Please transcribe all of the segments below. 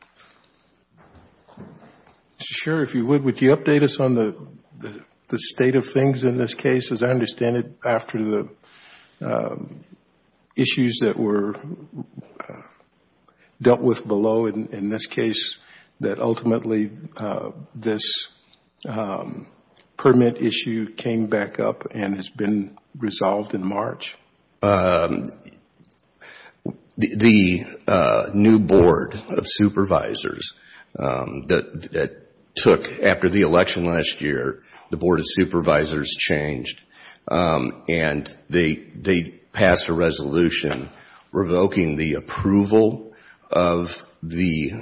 Mr. Sherry, if you would, would you update us on the state of things in this case? As I understand it, after the issues that were dealt with below in this case, that ultimately this permit issue came back up and has been resolved in March? The new Board of Supervisors that took after the election last year, the Board of Supervisors changed and they passed a resolution revoking the approval of the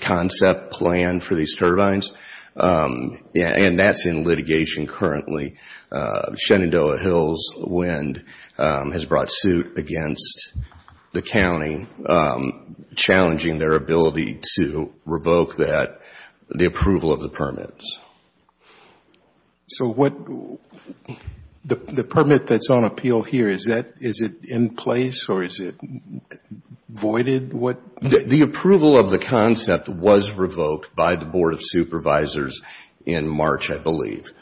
concept plan for these turbines. And that's in litigation currently. Shenandoah Hills Wind has brought suit against the county, challenging their ability to revoke the approval of the permits. So the permit that's on appeal here, is it in place or is it voided? The approval of the concept was revoked by the Board of Supervisors in March, I believe.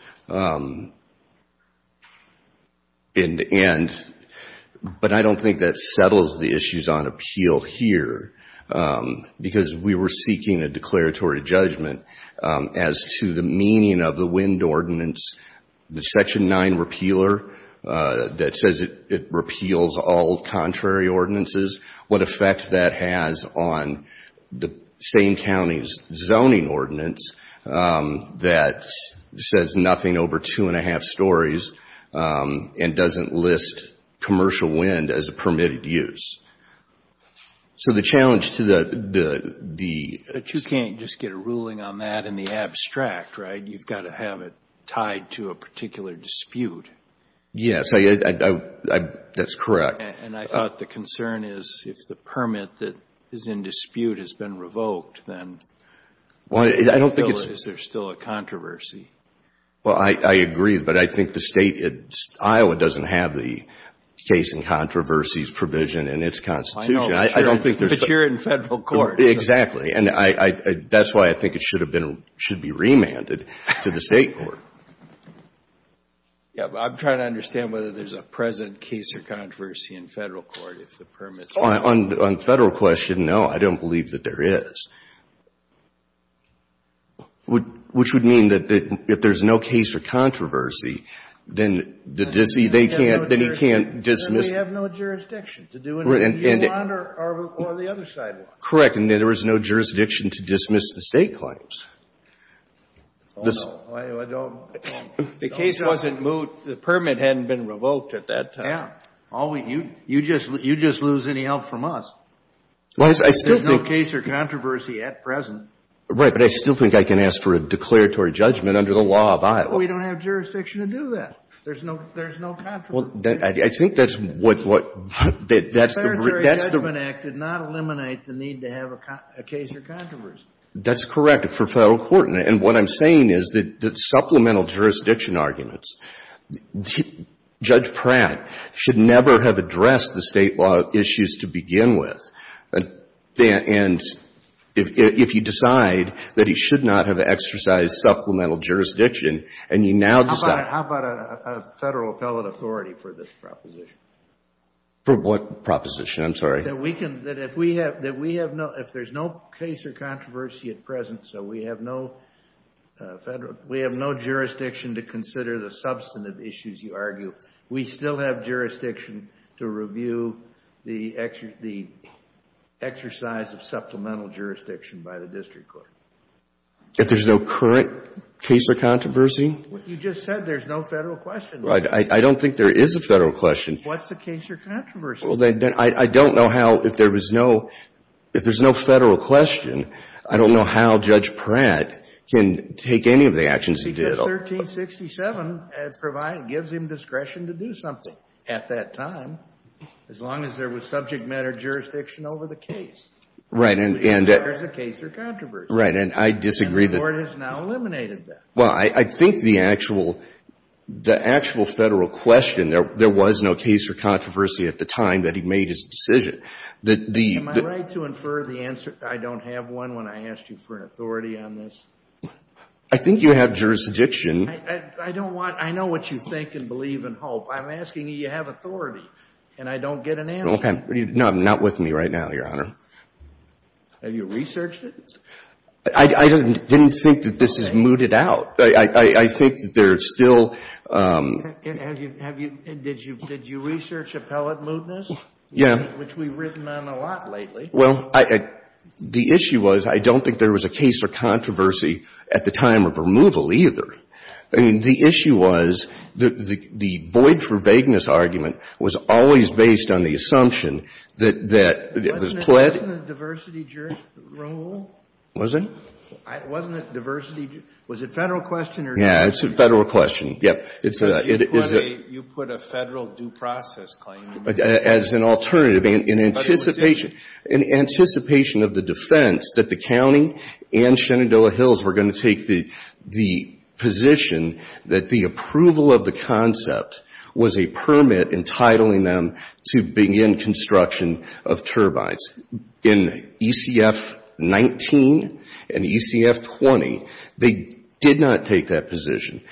But I don't think that settles the issues on appeal here. Because we were seeking a declaratory judgment as to the meaning of the wind ordinance, the Section 9 repealer that says it repeals all contrary ordinances, what effect that has on the same county's zoning ordinance that says nothing over two and a half stories and doesn't list commercial wind as a permitted use. So the challenge to the... That's right, you've got to have it tied to a particular dispute. Yes, that's correct. And I thought the concern is if the permit that is in dispute has been revoked, then is there still a controversy? Well, I agree, but I think the state, Iowa doesn't have the case and controversies provision in its constitution. But you're in federal court. Exactly. And that's why I think it should have been, should be remanded to the state court. Yeah, but I'm trying to understand whether there's a present case or controversy in federal court if the permit is revoked. On the federal question, no, I don't believe that there is. Which would mean that if there's no case or controversy, then they can't dismiss... Then they have no jurisdiction to do anything beyond or the other sidewalk. Correct. And there is no jurisdiction to dismiss the state claims. Oh, no. The case wasn't moved. The permit hadn't been revoked at that time. Yeah. You just lose any help from us. Well, I still think... There's no case or controversy at present. Right, but I still think I can ask for a declaratory judgment under the law of Iowa. Well, we don't have jurisdiction to do that. There's no controversy. I think that's what... The Judgment Act did not eliminate the need to have a case or controversy. That's correct for federal court. And what I'm saying is that supplemental jurisdiction arguments, Judge Pratt should never have addressed the state law issues to begin with. And if you decide that he should not have exercised supplemental jurisdiction and you now decide... How about a federal appellate authority for this proposition? For what proposition? I'm sorry. That if there's no case or controversy at present, so we have no federal... We have no jurisdiction to consider the substantive issues you argue. We still have jurisdiction to review the exercise of supplemental jurisdiction by the district court. If there's no current case or controversy? You just said there's no federal question. I don't think there is a federal question. What's the case or controversy? I don't know how, if there's no federal question, I don't know how Judge Pratt can take any of the actions he did. Because 1367 gives him discretion to do something at that time, as long as there was subject matter jurisdiction over the case. Right. There's a case or controversy. Right. And I disagree that... And the Court has now eliminated that. Well, I think the actual federal question, there was no case or controversy at the time that he made his decision. Am I right to infer the answer, I don't have one when I asked you for an authority on this? I think you have jurisdiction. I don't want, I know what you think and believe and hope. I'm asking you, you have authority. And I don't get an answer. No, I'm not with me right now, Your Honor. Have you researched it? I didn't think that this is mooted out. I think that there's still... And did you research appellate mootness? Yeah. Which we've written on a lot lately. Well, the issue was, I don't think there was a case or controversy at the time of removal either. I mean, the issue was, the void for vagueness argument was always based on the assumption that... Wasn't it diversity rule? Was it? Wasn't it diversity, was it federal question or... Yeah, it's a federal question. Because you put a federal due process claim. As an alternative, in anticipation of the defense that the county and Shenandoah Hills were going to take the position that the approval of the concept was a permit entitling them to begin construction of turbines. In ECF-19 and ECF-20, they did not take that position.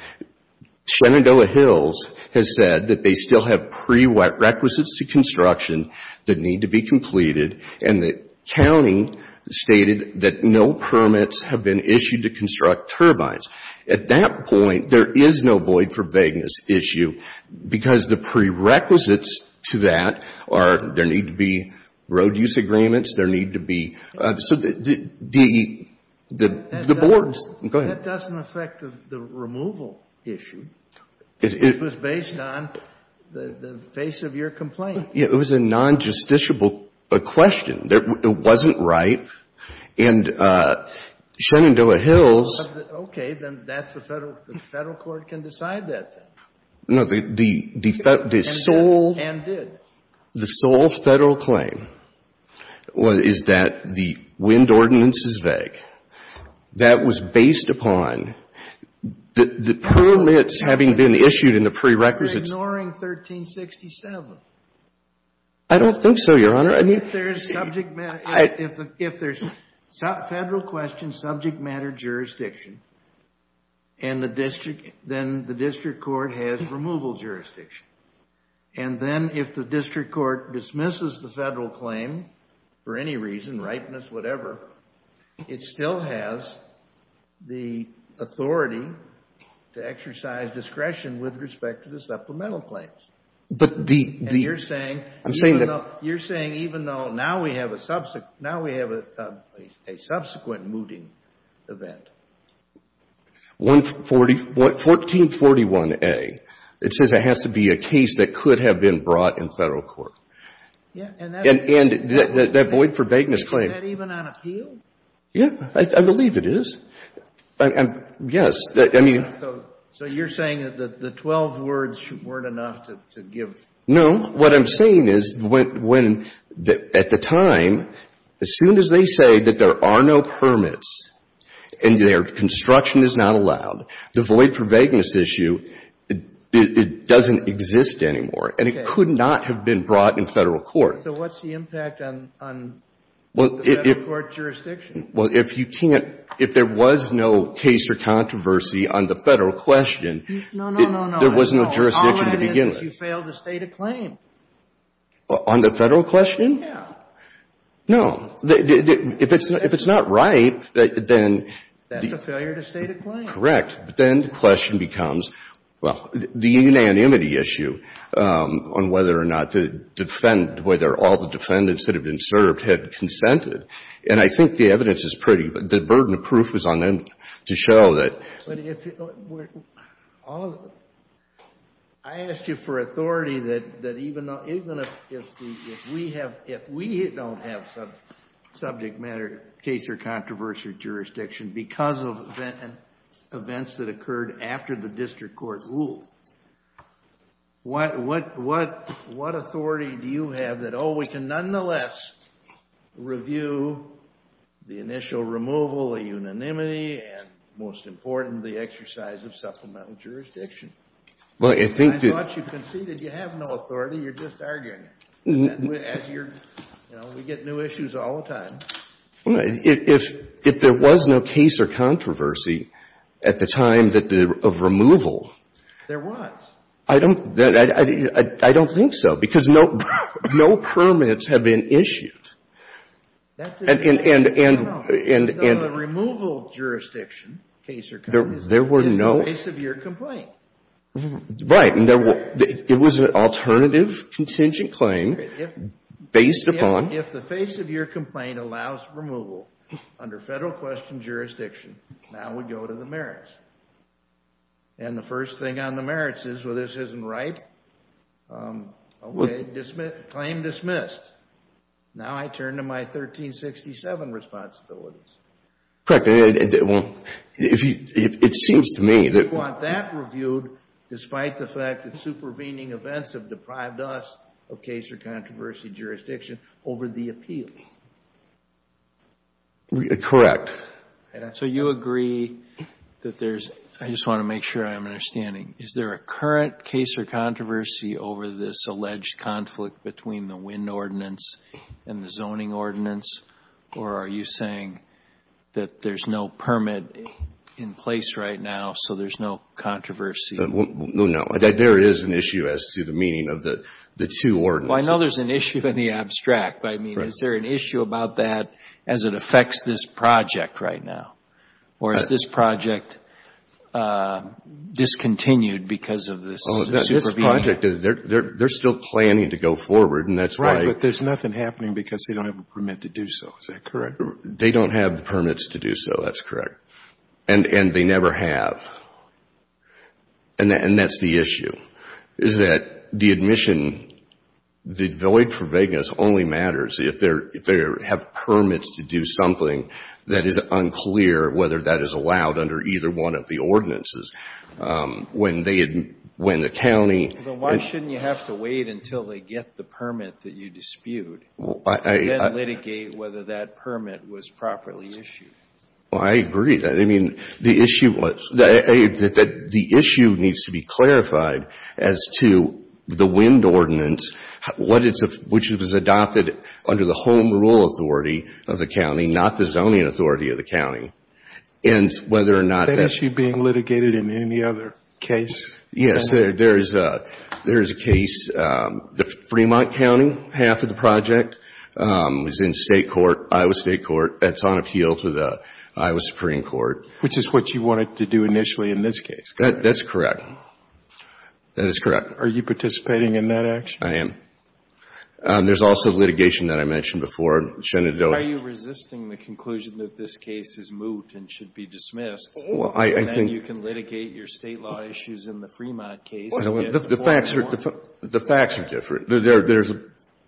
Shenandoah Hills has said that they still have prerequisites to construction that need to be completed. And the county stated that no permits have been issued to construct turbines. At that point, there is no void for vagueness issue because the prerequisites to that are, there need to be road use agreements, there need to be... So the boards... It was based on the face of your complaint. Yeah, it was a non-justiciable question. It wasn't right. And Shenandoah Hills... Okay, then that's the federal court can decide that then. No, the sole... And did. The sole federal claim is that the wind ordinance is vague. That was based upon the permits having been issued in the prerequisites... You're ignoring 1367. I don't think so, Your Honor. If there's federal questions, subject matter jurisdiction, then the district court has removal jurisdiction. And then if the district court dismisses the federal claim for any reason, ripeness, whatever, it still has the authority to exercise discretion with respect to the supplemental claims. But the... And you're saying... I'm saying that... You're saying even though now we have a subsequent mooting event. 1441A, it says it has to be a case that could have been brought in federal court. And that void for vagueness claim... Is that even on appeal? Yeah, I believe it is. Yes, I mean... So you're saying that the 12 words weren't enough to give... No. What I'm saying is when at the time, as soon as they say that there are no permits and their construction is not allowed, the void for vagueness issue, it doesn't exist anymore. And it could not have been brought in federal court. So what's the impact on the federal court jurisdiction? Well, if you can't... If there was no case or controversy on the federal question... No, no, no, no. There was no jurisdiction to begin with. All I know is you failed to state a claim. On the federal question? Yeah. No. If it's not right, then... That's a failure to state a claim. Correct. But then the question becomes, well, the unanimity issue on whether or not to defend whether all the defendants that have been served had consented. And I think the evidence is pretty... The burden of proof is on them to show that... But if... I asked you for authority that even if we have... jurisdiction because of events that occurred after the district court ruled, what authority do you have that, oh, we can nonetheless review the initial removal, the unanimity, and most important, the exercise of supplemental jurisdiction? I thought you conceded you have no authority. You're just arguing it. We get new issues all the time. If there was no case or controversy at the time of removal... There was. I don't think so because no permits have been issued. And... The removal jurisdiction, case or controversy, is the base of your complaint. Right. It was an alternative contingent claim based upon... If the face of your complaint allows removal under federal question jurisdiction, now we go to the merits. And the first thing on the merits is, well, this isn't right. Okay, claim dismissed. Now I turn to my 1367 responsibilities. Correct. It seems to me that... You want that reviewed despite the fact that supervening events have deprived us of case or controversy jurisdiction over the appeal. Correct. So you agree that there's... I just want to make sure I'm understanding. Is there a current case or controversy over this alleged conflict between the There's no permit in place right now, so there's no controversy. No, there is an issue as to the meaning of the two ordinances. Well, I know there's an issue in the abstract. I mean, is there an issue about that as it affects this project right now? Or is this project discontinued because of this supervening? This project, they're still planning to go forward, and that's why... Right, but there's nothing happening because they don't have a permit to do so. Is that correct? They don't have permits to do so. That's correct. And they never have. And that's the issue, is that the admission, the void for vagueness only matters if they have permits to do something that is unclear whether that is allowed under either one of the ordinances. When the county... Then why shouldn't you have to wait until they get the permit that you dispute and then litigate whether that permit was properly issued? Well, I agree. I mean, the issue needs to be clarified as to the wind ordinance, which was adopted under the home rule authority of the county, not the zoning authority of the county, and whether or not... That issue being litigated in any other case? Yes, there is a case. The Fremont County half of the project is in Iowa State Court. That's on appeal to the Iowa Supreme Court. Which is what you wanted to do initially in this case, correct? That's correct. That is correct. Are you participating in that action? I am. There's also litigation that I mentioned before. Are you resisting the conclusion that this case is moot and should be dismissed? Well, I think... And then you can litigate your state law issues in the Fremont case. The facts are different. There's a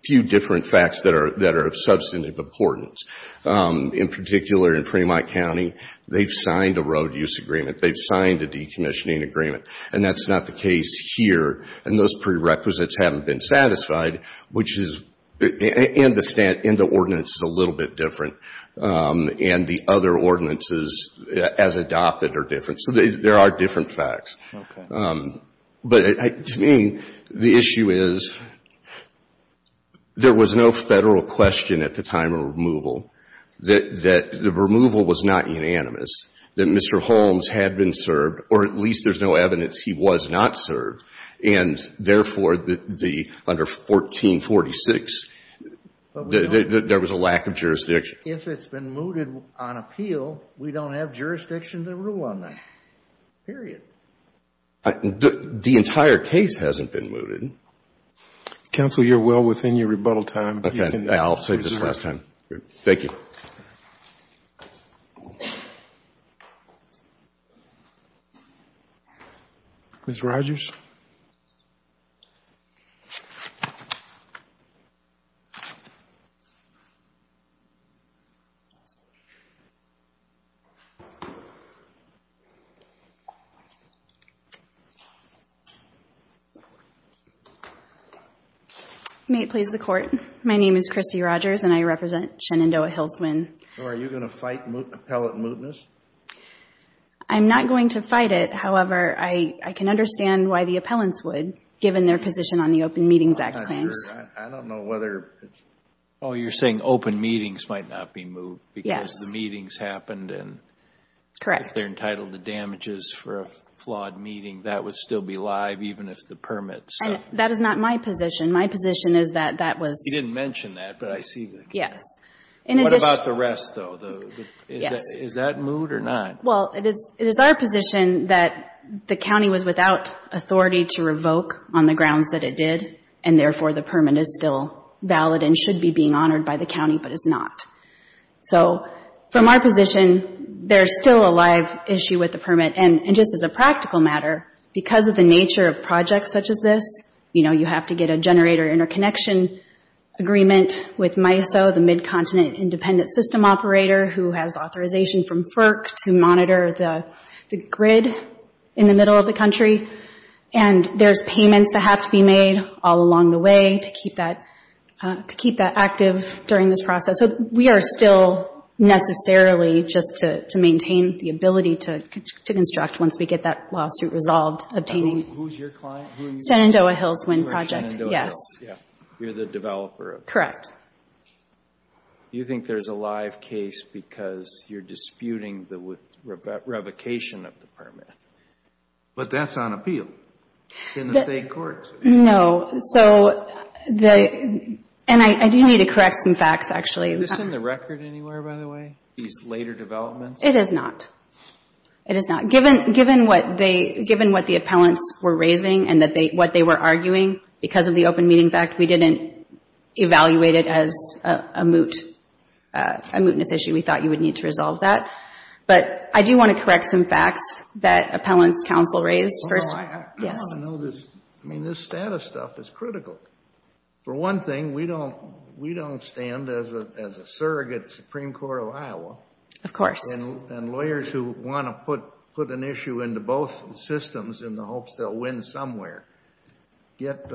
few different facts that are of substantive importance. In particular, in Fremont County, they've signed a road use agreement. They've signed a decommissioning agreement. And that's not the case here. And those prerequisites haven't been satisfied, which is in the ordinance is a little bit different. And the other ordinances as adopted are different. So there are different facts. Okay. But, to me, the issue is there was no federal question at the time of removal that the removal was not unanimous, that Mr. Holmes had been served, or at least there's no evidence he was not served. And, therefore, under 1446, there was a lack of jurisdiction. Which, if it's been mooted on appeal, we don't have jurisdiction to rule on that. Period. The entire case hasn't been mooted. Counsel, you're well within your rebuttal time. Okay. I'll save this for last time. Thank you. Ms. Rogers? May it please the Court, my name is Christy Rogers and I represent Shenandoah-Hillsman. So are you going to fight appellate mootness? I'm not going to fight it. However, I can understand why the appellants would, given their position on the Open Meetings Act claims. I'm not sure. I don't know whether it's... Oh, you're saying open meetings might not be moot. Yes. Because the meetings happened and... Correct. If they're entitled to damages for a flawed meeting, that would still be live even if the permits... That is not my position. My position is that that was... You didn't mention that, but I see... In addition... What about the rest, though? Yes. Is that moot or not? Well, it is our position that the county was without authority to revoke on the grounds that it did, and therefore the permit is still valid and should be being honored by the county, but it's not. So from our position, there's still a live issue with the permit. And just as a practical matter, because of the nature of projects such as this, you know, you have to get a generator interconnection agreement with MISO, the Mid-Continent Independent System Operator, who has authorization from FERC to monitor the grid in the middle of the country. And there's payments that have to be made all along the way to keep that active during this process. So we are still necessarily just to maintain the ability to construct once we get that lawsuit resolved, obtaining... Who's your client? Shenandoah Hills Wind Project. Yes. You're the developer. Correct. Do you think there's a live case because you're disputing the revocation of the permit? But that's on appeal in the state courts. No. So the... And I do need to correct some facts, actually. Is this in the record anywhere, by the way, these later developments? It is not. It is not. Given what the appellants were raising and what they were arguing because of the open meeting fact, we didn't evaluate it as a mootness issue. We thought you would need to resolve that. But I do want to correct some facts that appellants counsel raised. Well, I want to know this. I mean, this status stuff is critical. For one thing, we don't stand as a surrogate Supreme Court of Iowa. Of course. And lawyers who want to put an issue into both systems in the hopes they'll win somewhere get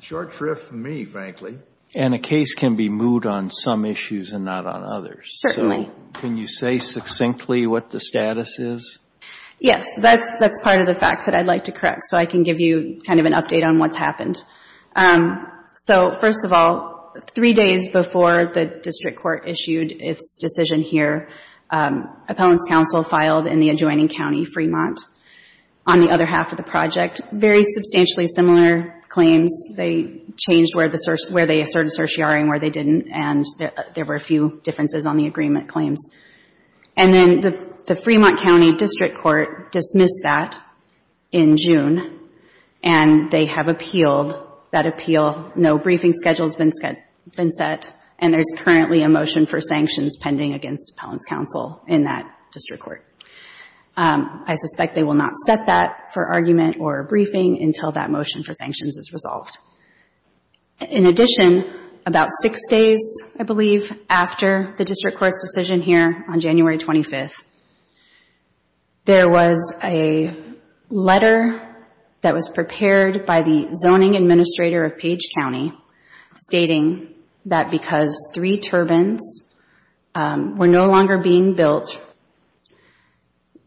short shrift from me, frankly. And a case can be moot on some issues and not on others. Certainly. Can you say succinctly what the status is? Yes. That's part of the facts that I'd like to correct so I can give you kind of an update on what's happened. So, first of all, three days before the district court issued its decision here, appellants counsel filed in the adjoining county, Fremont, on the other half of the project. Very substantially similar claims. They changed where they asserted certiorari and where they didn't. And there were a few differences on the agreement claims. And then the Fremont County District Court dismissed that in June. And they have appealed that appeal. No briefing schedule has been set. And there's currently a motion for sanctions pending against appellants counsel in that district court. I suspect they will not set that for argument or briefing until that motion for sanctions is resolved. In addition, about six days, I believe, after the district court's decision here on January 25th, there was a letter that was prepared by the zoning administrator of Page County stating that because three turbines were no longer being built,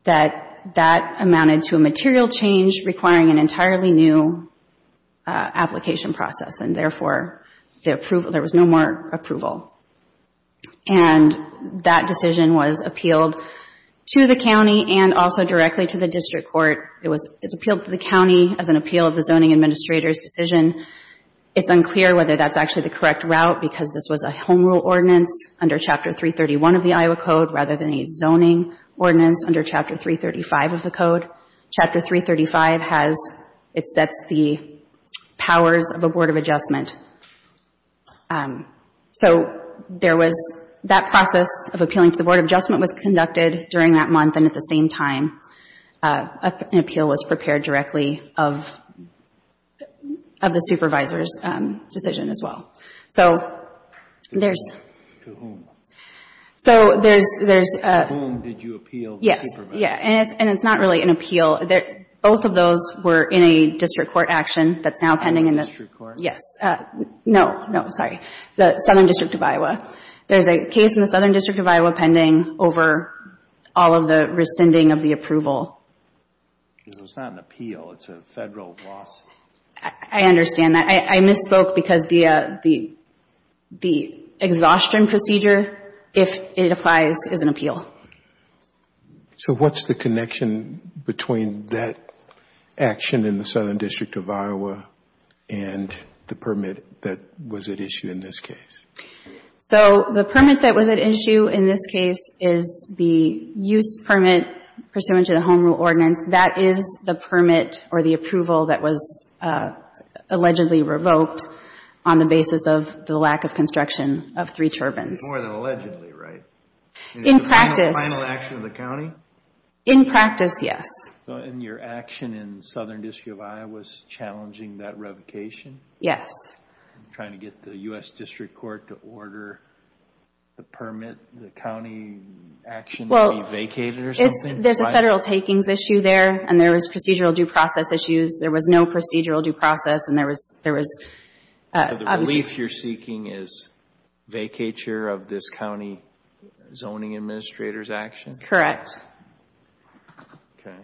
that that amounted to a material change requiring an entirely new application process. And therefore, there was no more approval. And that decision was appealed to the county and also directly to the district court. It was appealed to the county as an appeal of the zoning administrator's decision. It's unclear whether that's actually the correct route because this was a home rule ordinance under Chapter 331 of the Iowa Code rather than a zoning ordinance under Chapter 335 of the Code. Chapter 335 has, it sets the powers of a Board of Adjustment. So there was that process of appealing to the Board of Adjustment was conducted during that month. And at the same time, an appeal was prepared directly of the supervisor's decision as well. So there's... To whom? So there's... To whom did you appeal to the supervisor? Yes. Yeah. And it's not really an appeal. Both of those were in a district court action that's now pending in the... District court? Yes. No. No. Sorry. The Southern District of Iowa. There's a case in the Southern District of Iowa pending over all of the rescinding of the approval. So it's not an appeal. It's a federal lawsuit. I understand that. I misspoke because the exhaustion procedure, if it applies, is an appeal. So what's the connection between that action in the Southern District of Iowa and the permit that was at issue in this case? So the permit that was at issue in this case is the use permit pursuant to the Home Rule Ordinance. That is the permit or the approval that was allegedly revoked on the basis of the lack of construction of three turbines. More than allegedly, right? In practice. In the final action of the county? In practice, yes. And your action in the Southern District of Iowa is challenging that revocation? Yes. Trying to get the U.S. District Court to order the permit, the county action to be vacated or something? Well, there's a federal takings issue there, and there was procedural due process issues. There was no procedural due process, and there was... So the relief you're seeking is vacature of this county zoning administrator's action? Correct. Okay.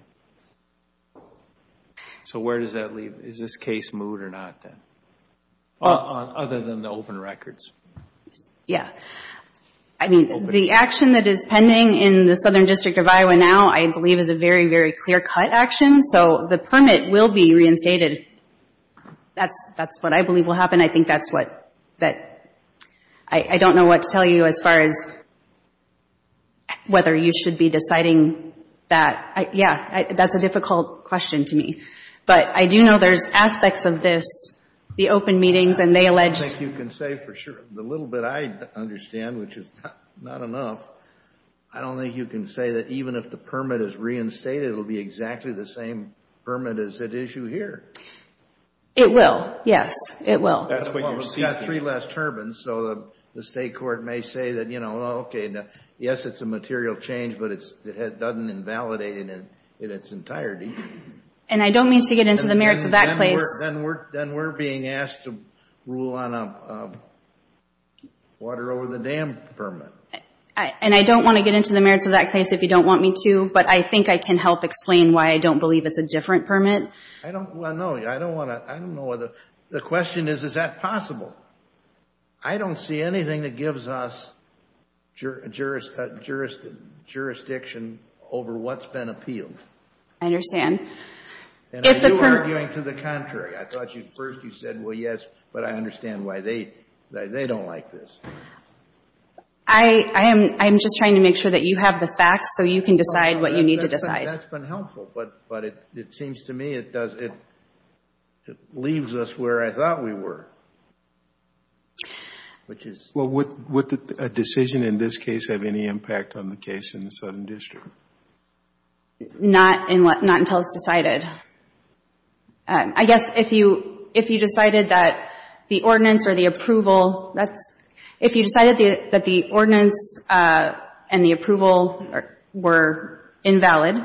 So where does that leave? Is this case moved or not, then? Other than the open records? Yes. I mean, the action that is pending in the Southern District of Iowa now, I believe, is a very, very clear-cut action. So the permit will be reinstated. That's what I believe will happen. I think that's what that... I don't know what to tell you as far as whether you should be deciding that. Yeah, that's a difficult question to me. But I do know there's aspects of this, the open meetings and they allege... I think you can say for sure. The little bit I understand, which is not enough, I don't think you can say that even if the permit is reinstated, it will be exactly the same permit as at issue here. It will. Yes, it will. That's what you're seeking. Well, we've got three less turbines, so the state court may say that, you know, okay, yes, it's a material change, but it doesn't invalidate it in its entirety. And I don't mean to get into the merits of that case. Then we're being asked to rule on a water over the dam permit. And I don't want to get into the merits of that case if you don't want me to, but I think I can help explain why I don't believe it's a different permit. Well, no, I don't know. The question is, is that possible? I don't see anything that gives us jurisdiction over what's been appealed. I understand. And are you arguing to the contrary? I thought first you said, well, yes, but I understand why they don't like this. I am just trying to make sure that you have the facts so you can decide what you need to decide. That's been helpful, but it seems to me it leaves us where I thought we were. Would a decision in this case have any impact on the case in the Southern District? Not until it's decided. I guess if you decided that the ordinance or the approval, if you decided that the ordinance and the approval were invalid,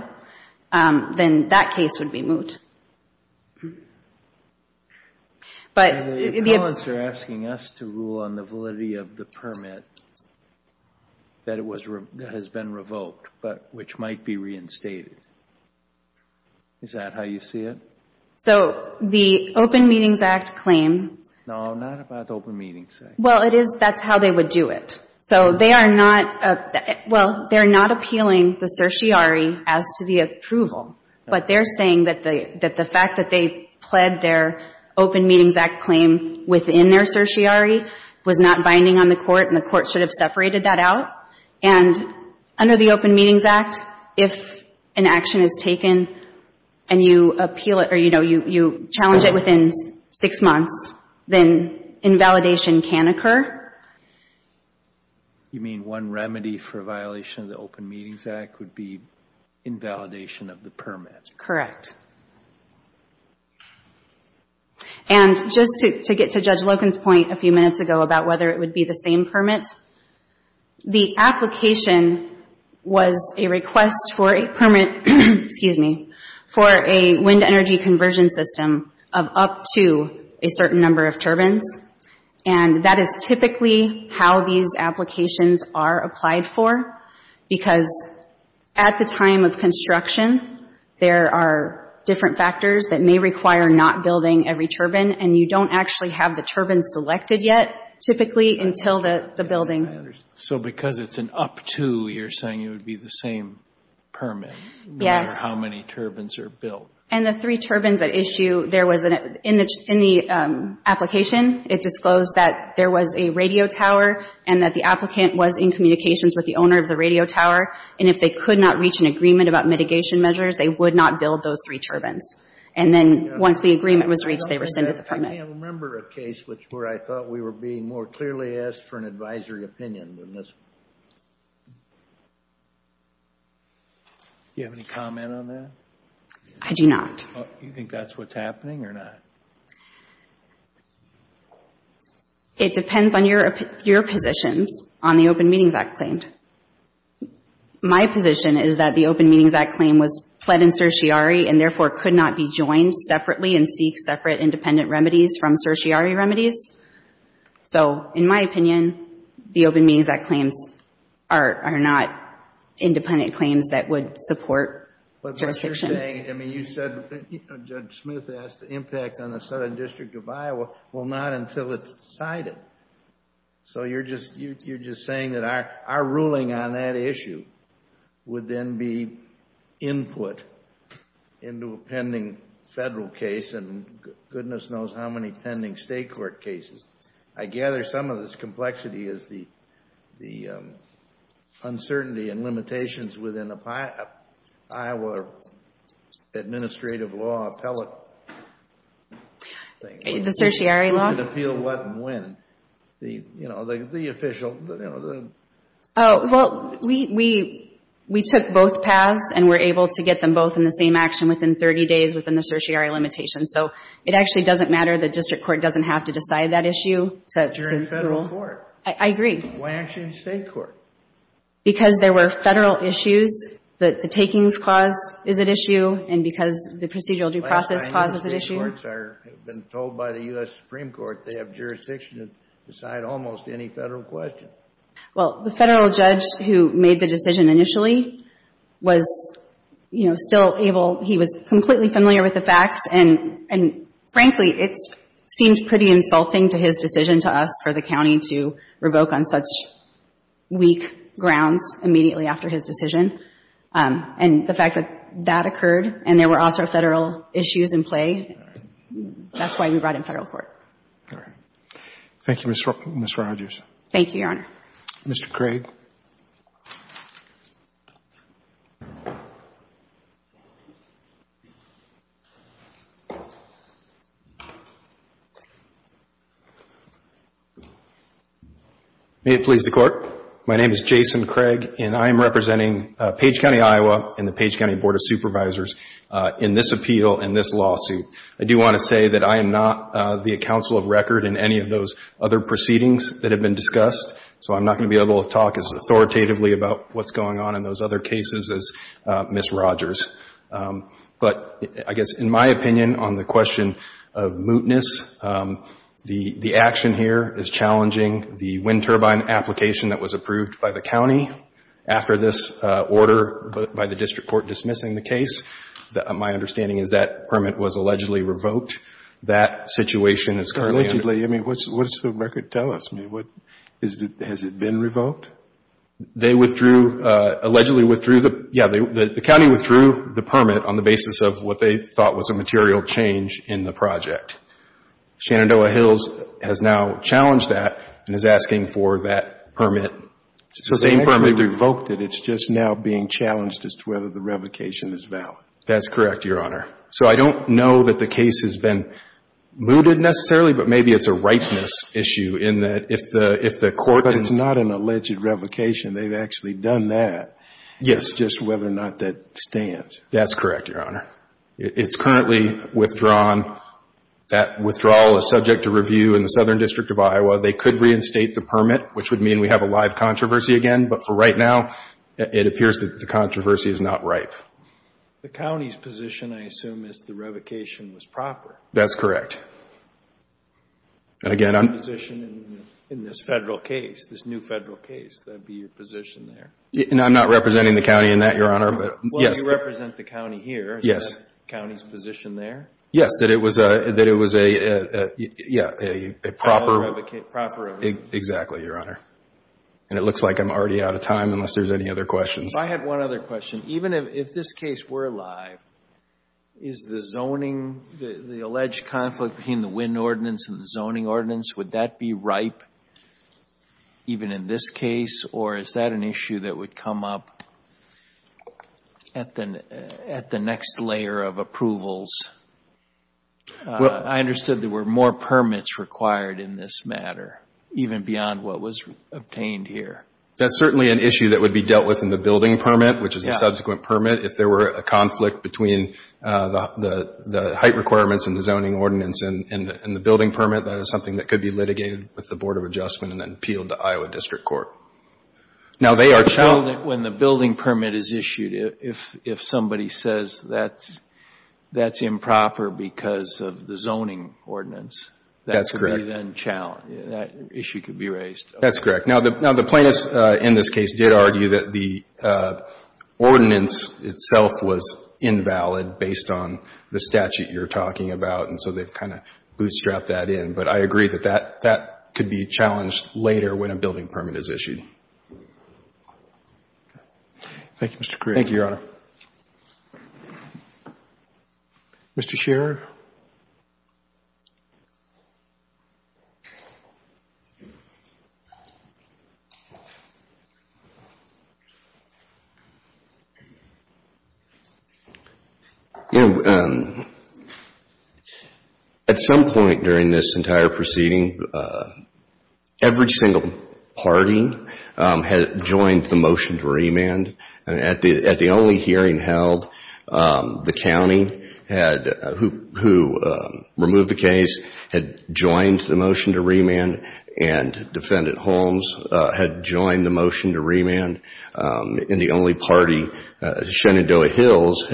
then that case would be moot. If the appellants are asking us to rule on the validity of the permit that has been revoked, but which might be reinstated, is that how you see it? So the Open Meetings Act claim. No, not about the Open Meetings Act. Well, it is, that's how they would do it. So they are not, well, they're not appealing the certiorari as to the approval. But they're saying that the fact that they pled their Open Meetings Act claim within their certiorari was not binding on the Court and the Court should have separated that out. And under the Open Meetings Act, if an action is taken and you appeal it or, you know, you challenge it within six months, then invalidation can occur. You mean one remedy for violation of the Open Meetings Act would be invalidation of the permit? Correct. And just to get to Judge Loken's point a few minutes ago about whether it would be the same permit, the application was a request for a permit, excuse me, for a wind energy conversion system of up to a certain number of turbines. And that is typically how these applications are applied for, because at the time of construction, there are different factors that may require not building every turbine, and you don't actually have the turbine selected yet typically until the building. So because it's an up to, you're saying it would be the same permit, no matter how many turbines are built. And the three turbines at issue, there was an, in the application, it disclosed that there was a radio tower and that the applicant was in communications with the owner of the radio tower. And if they could not reach an agreement about mitigation measures, they would not build those three turbines. And then once the agreement was reached, they were sent a permit. I can't remember a case where I thought we were being more clearly asked for an advisory opinion than this. Do you have any comment on that? I do not. You think that's what's happening or not? It depends on your positions on the Open Meetings Act claim. My position is that the Open Meetings Act claim was pled in certiorari and therefore could not be joined separately and seek separate independent remedies from certiorari remedies. So in my opinion, the Open Meetings Act claims are not independent claims that would support jurisdiction. But what you're saying, I mean, you said, Judge Smith asked, the impact on the Southern District of Iowa, well, not until it's decided. So you're just saying that our ruling on that issue would then be input into a pending federal case and goodness knows how many pending state court cases. I gather some of this complexity is the uncertainty and limitations within the Iowa administrative law appellate thing. The certiorari law? The appeal of what and when. You know, the official. Well, we took both paths and were able to get them both in the same action within 30 days within the certiorari limitations. So it actually doesn't matter. The district court doesn't have to decide that issue to rule. You're in federal court. I agree. Why aren't you in state court? Because there were federal issues. The takings clause is at issue and because the procedural due process clause is at issue. I've been told by the U.S. Supreme Court they have jurisdiction to decide almost any federal question. Well, the federal judge who made the decision initially was, you know, still able, he was completely familiar with the facts and frankly it seemed pretty insulting to his decision to us for the county to revoke on such weak grounds immediately after his decision. And the fact that that occurred and there were also federal issues in play, that's why we brought him to federal court. All right. Thank you, Ms. Rogers. Thank you, Your Honor. Mr. Craig. May it please the Court. My name is Jason Craig and I am representing Page County, Iowa, and the Page County Board of Supervisors in this appeal and this lawsuit. I do want to say that I am not the counsel of record in any of those other proceedings that have been discussed, so I'm not going to be able to talk as authoritatively about what's going on in those other cases as Ms. Rogers. But I guess in my opinion on the question of mootness, the action here is challenging the wind turbine application that was approved by the county after this order by the district court dismissing the case. My understanding is that permit was allegedly revoked. That situation is currently under review. Allegedly? I mean, what does the record tell us? Has it been revoked? They withdrew, allegedly withdrew, yeah, the county withdrew the permit on the basis of what they thought was a material change in the project. Shenandoah Hills has now challenged that and is asking for that permit. So they actually revoked it. It's just now being challenged as to whether the revocation is valid. That's correct, Your Honor. So I don't know that the case has been mooted necessarily, but maybe it's a ripeness issue in that if the court didn't. But it's not an alleged revocation. They've actually done that. Yes. It's just whether or not that stands. That's correct, Your Honor. It's currently withdrawn. That withdrawal is subject to review in the Southern District of Iowa. They could reinstate the permit, which would mean we have a live controversy again. But for right now, it appears that the controversy is not ripe. The county's position, I assume, is the revocation was proper. That's correct. And again, I'm... Your position in this Federal case, this new Federal case, that would be your position there. I'm not representing the county in that, Your Honor. Well, you represent the county here. Yes. Is that the county's position there? Yes, that it was a proper... Proper revocation. Exactly, Your Honor. And it looks like I'm already out of time unless there's any other questions. I have one other question. Even if this case were live, is the zoning, the alleged conflict between the wind ordinance and the zoning ordinance, would that be ripe even in this case? Or is that an issue that would come up at the next layer of approvals? I understood there were more permits required in this matter, even beyond what was obtained here. That's certainly an issue that would be dealt with in the building permit, which is a subsequent permit. If there were a conflict between the height requirements and the zoning ordinance and the building permit, that is something that could be litigated with the Board of Adjustment and then appealed to Iowa District Court. Now, they are... When the building permit is issued, if somebody says that that's improper because of the zoning ordinance... That's correct. That issue could be raised. That's correct. Now, the plaintiffs in this case did argue that the ordinance itself was invalid based on the statute you're talking about, and so they've kind of bootstrapped that in. But I agree that that could be challenged later when a building permit is issued. Thank you, Mr. Crewe. Thank you, Your Honor. Mr. Scherer? You know, at some point during this entire proceeding, every single party had joined the motion to remand. At the only hearing held, the county who removed the case had joined the motion to remand, and Defendant Holmes had joined the motion to remand. And the only party, Shenandoah Hills,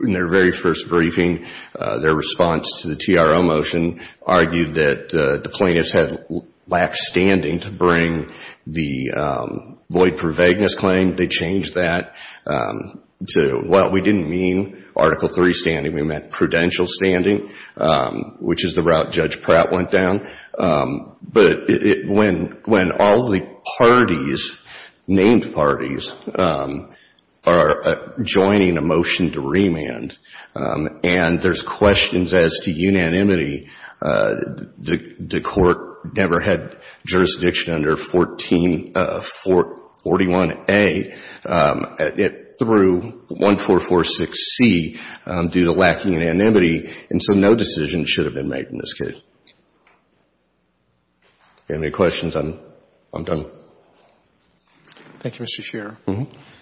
in their very first briefing, their response to the TRO motion, argued that the plaintiffs had lacked standing to bring the void for vagueness claim. They changed that to, well, we didn't mean Article III standing. We meant prudential standing, which is the route Judge Pratt went down. But when all the parties, named parties, are joining a motion to remand, and there's questions as to unanimity, the Court never had jurisdiction under 41A. It threw 1446C due to lacking unanimity, and so no decision should have been made in this case. If you have any questions, I'm done. Thank you, Mr. Scherer.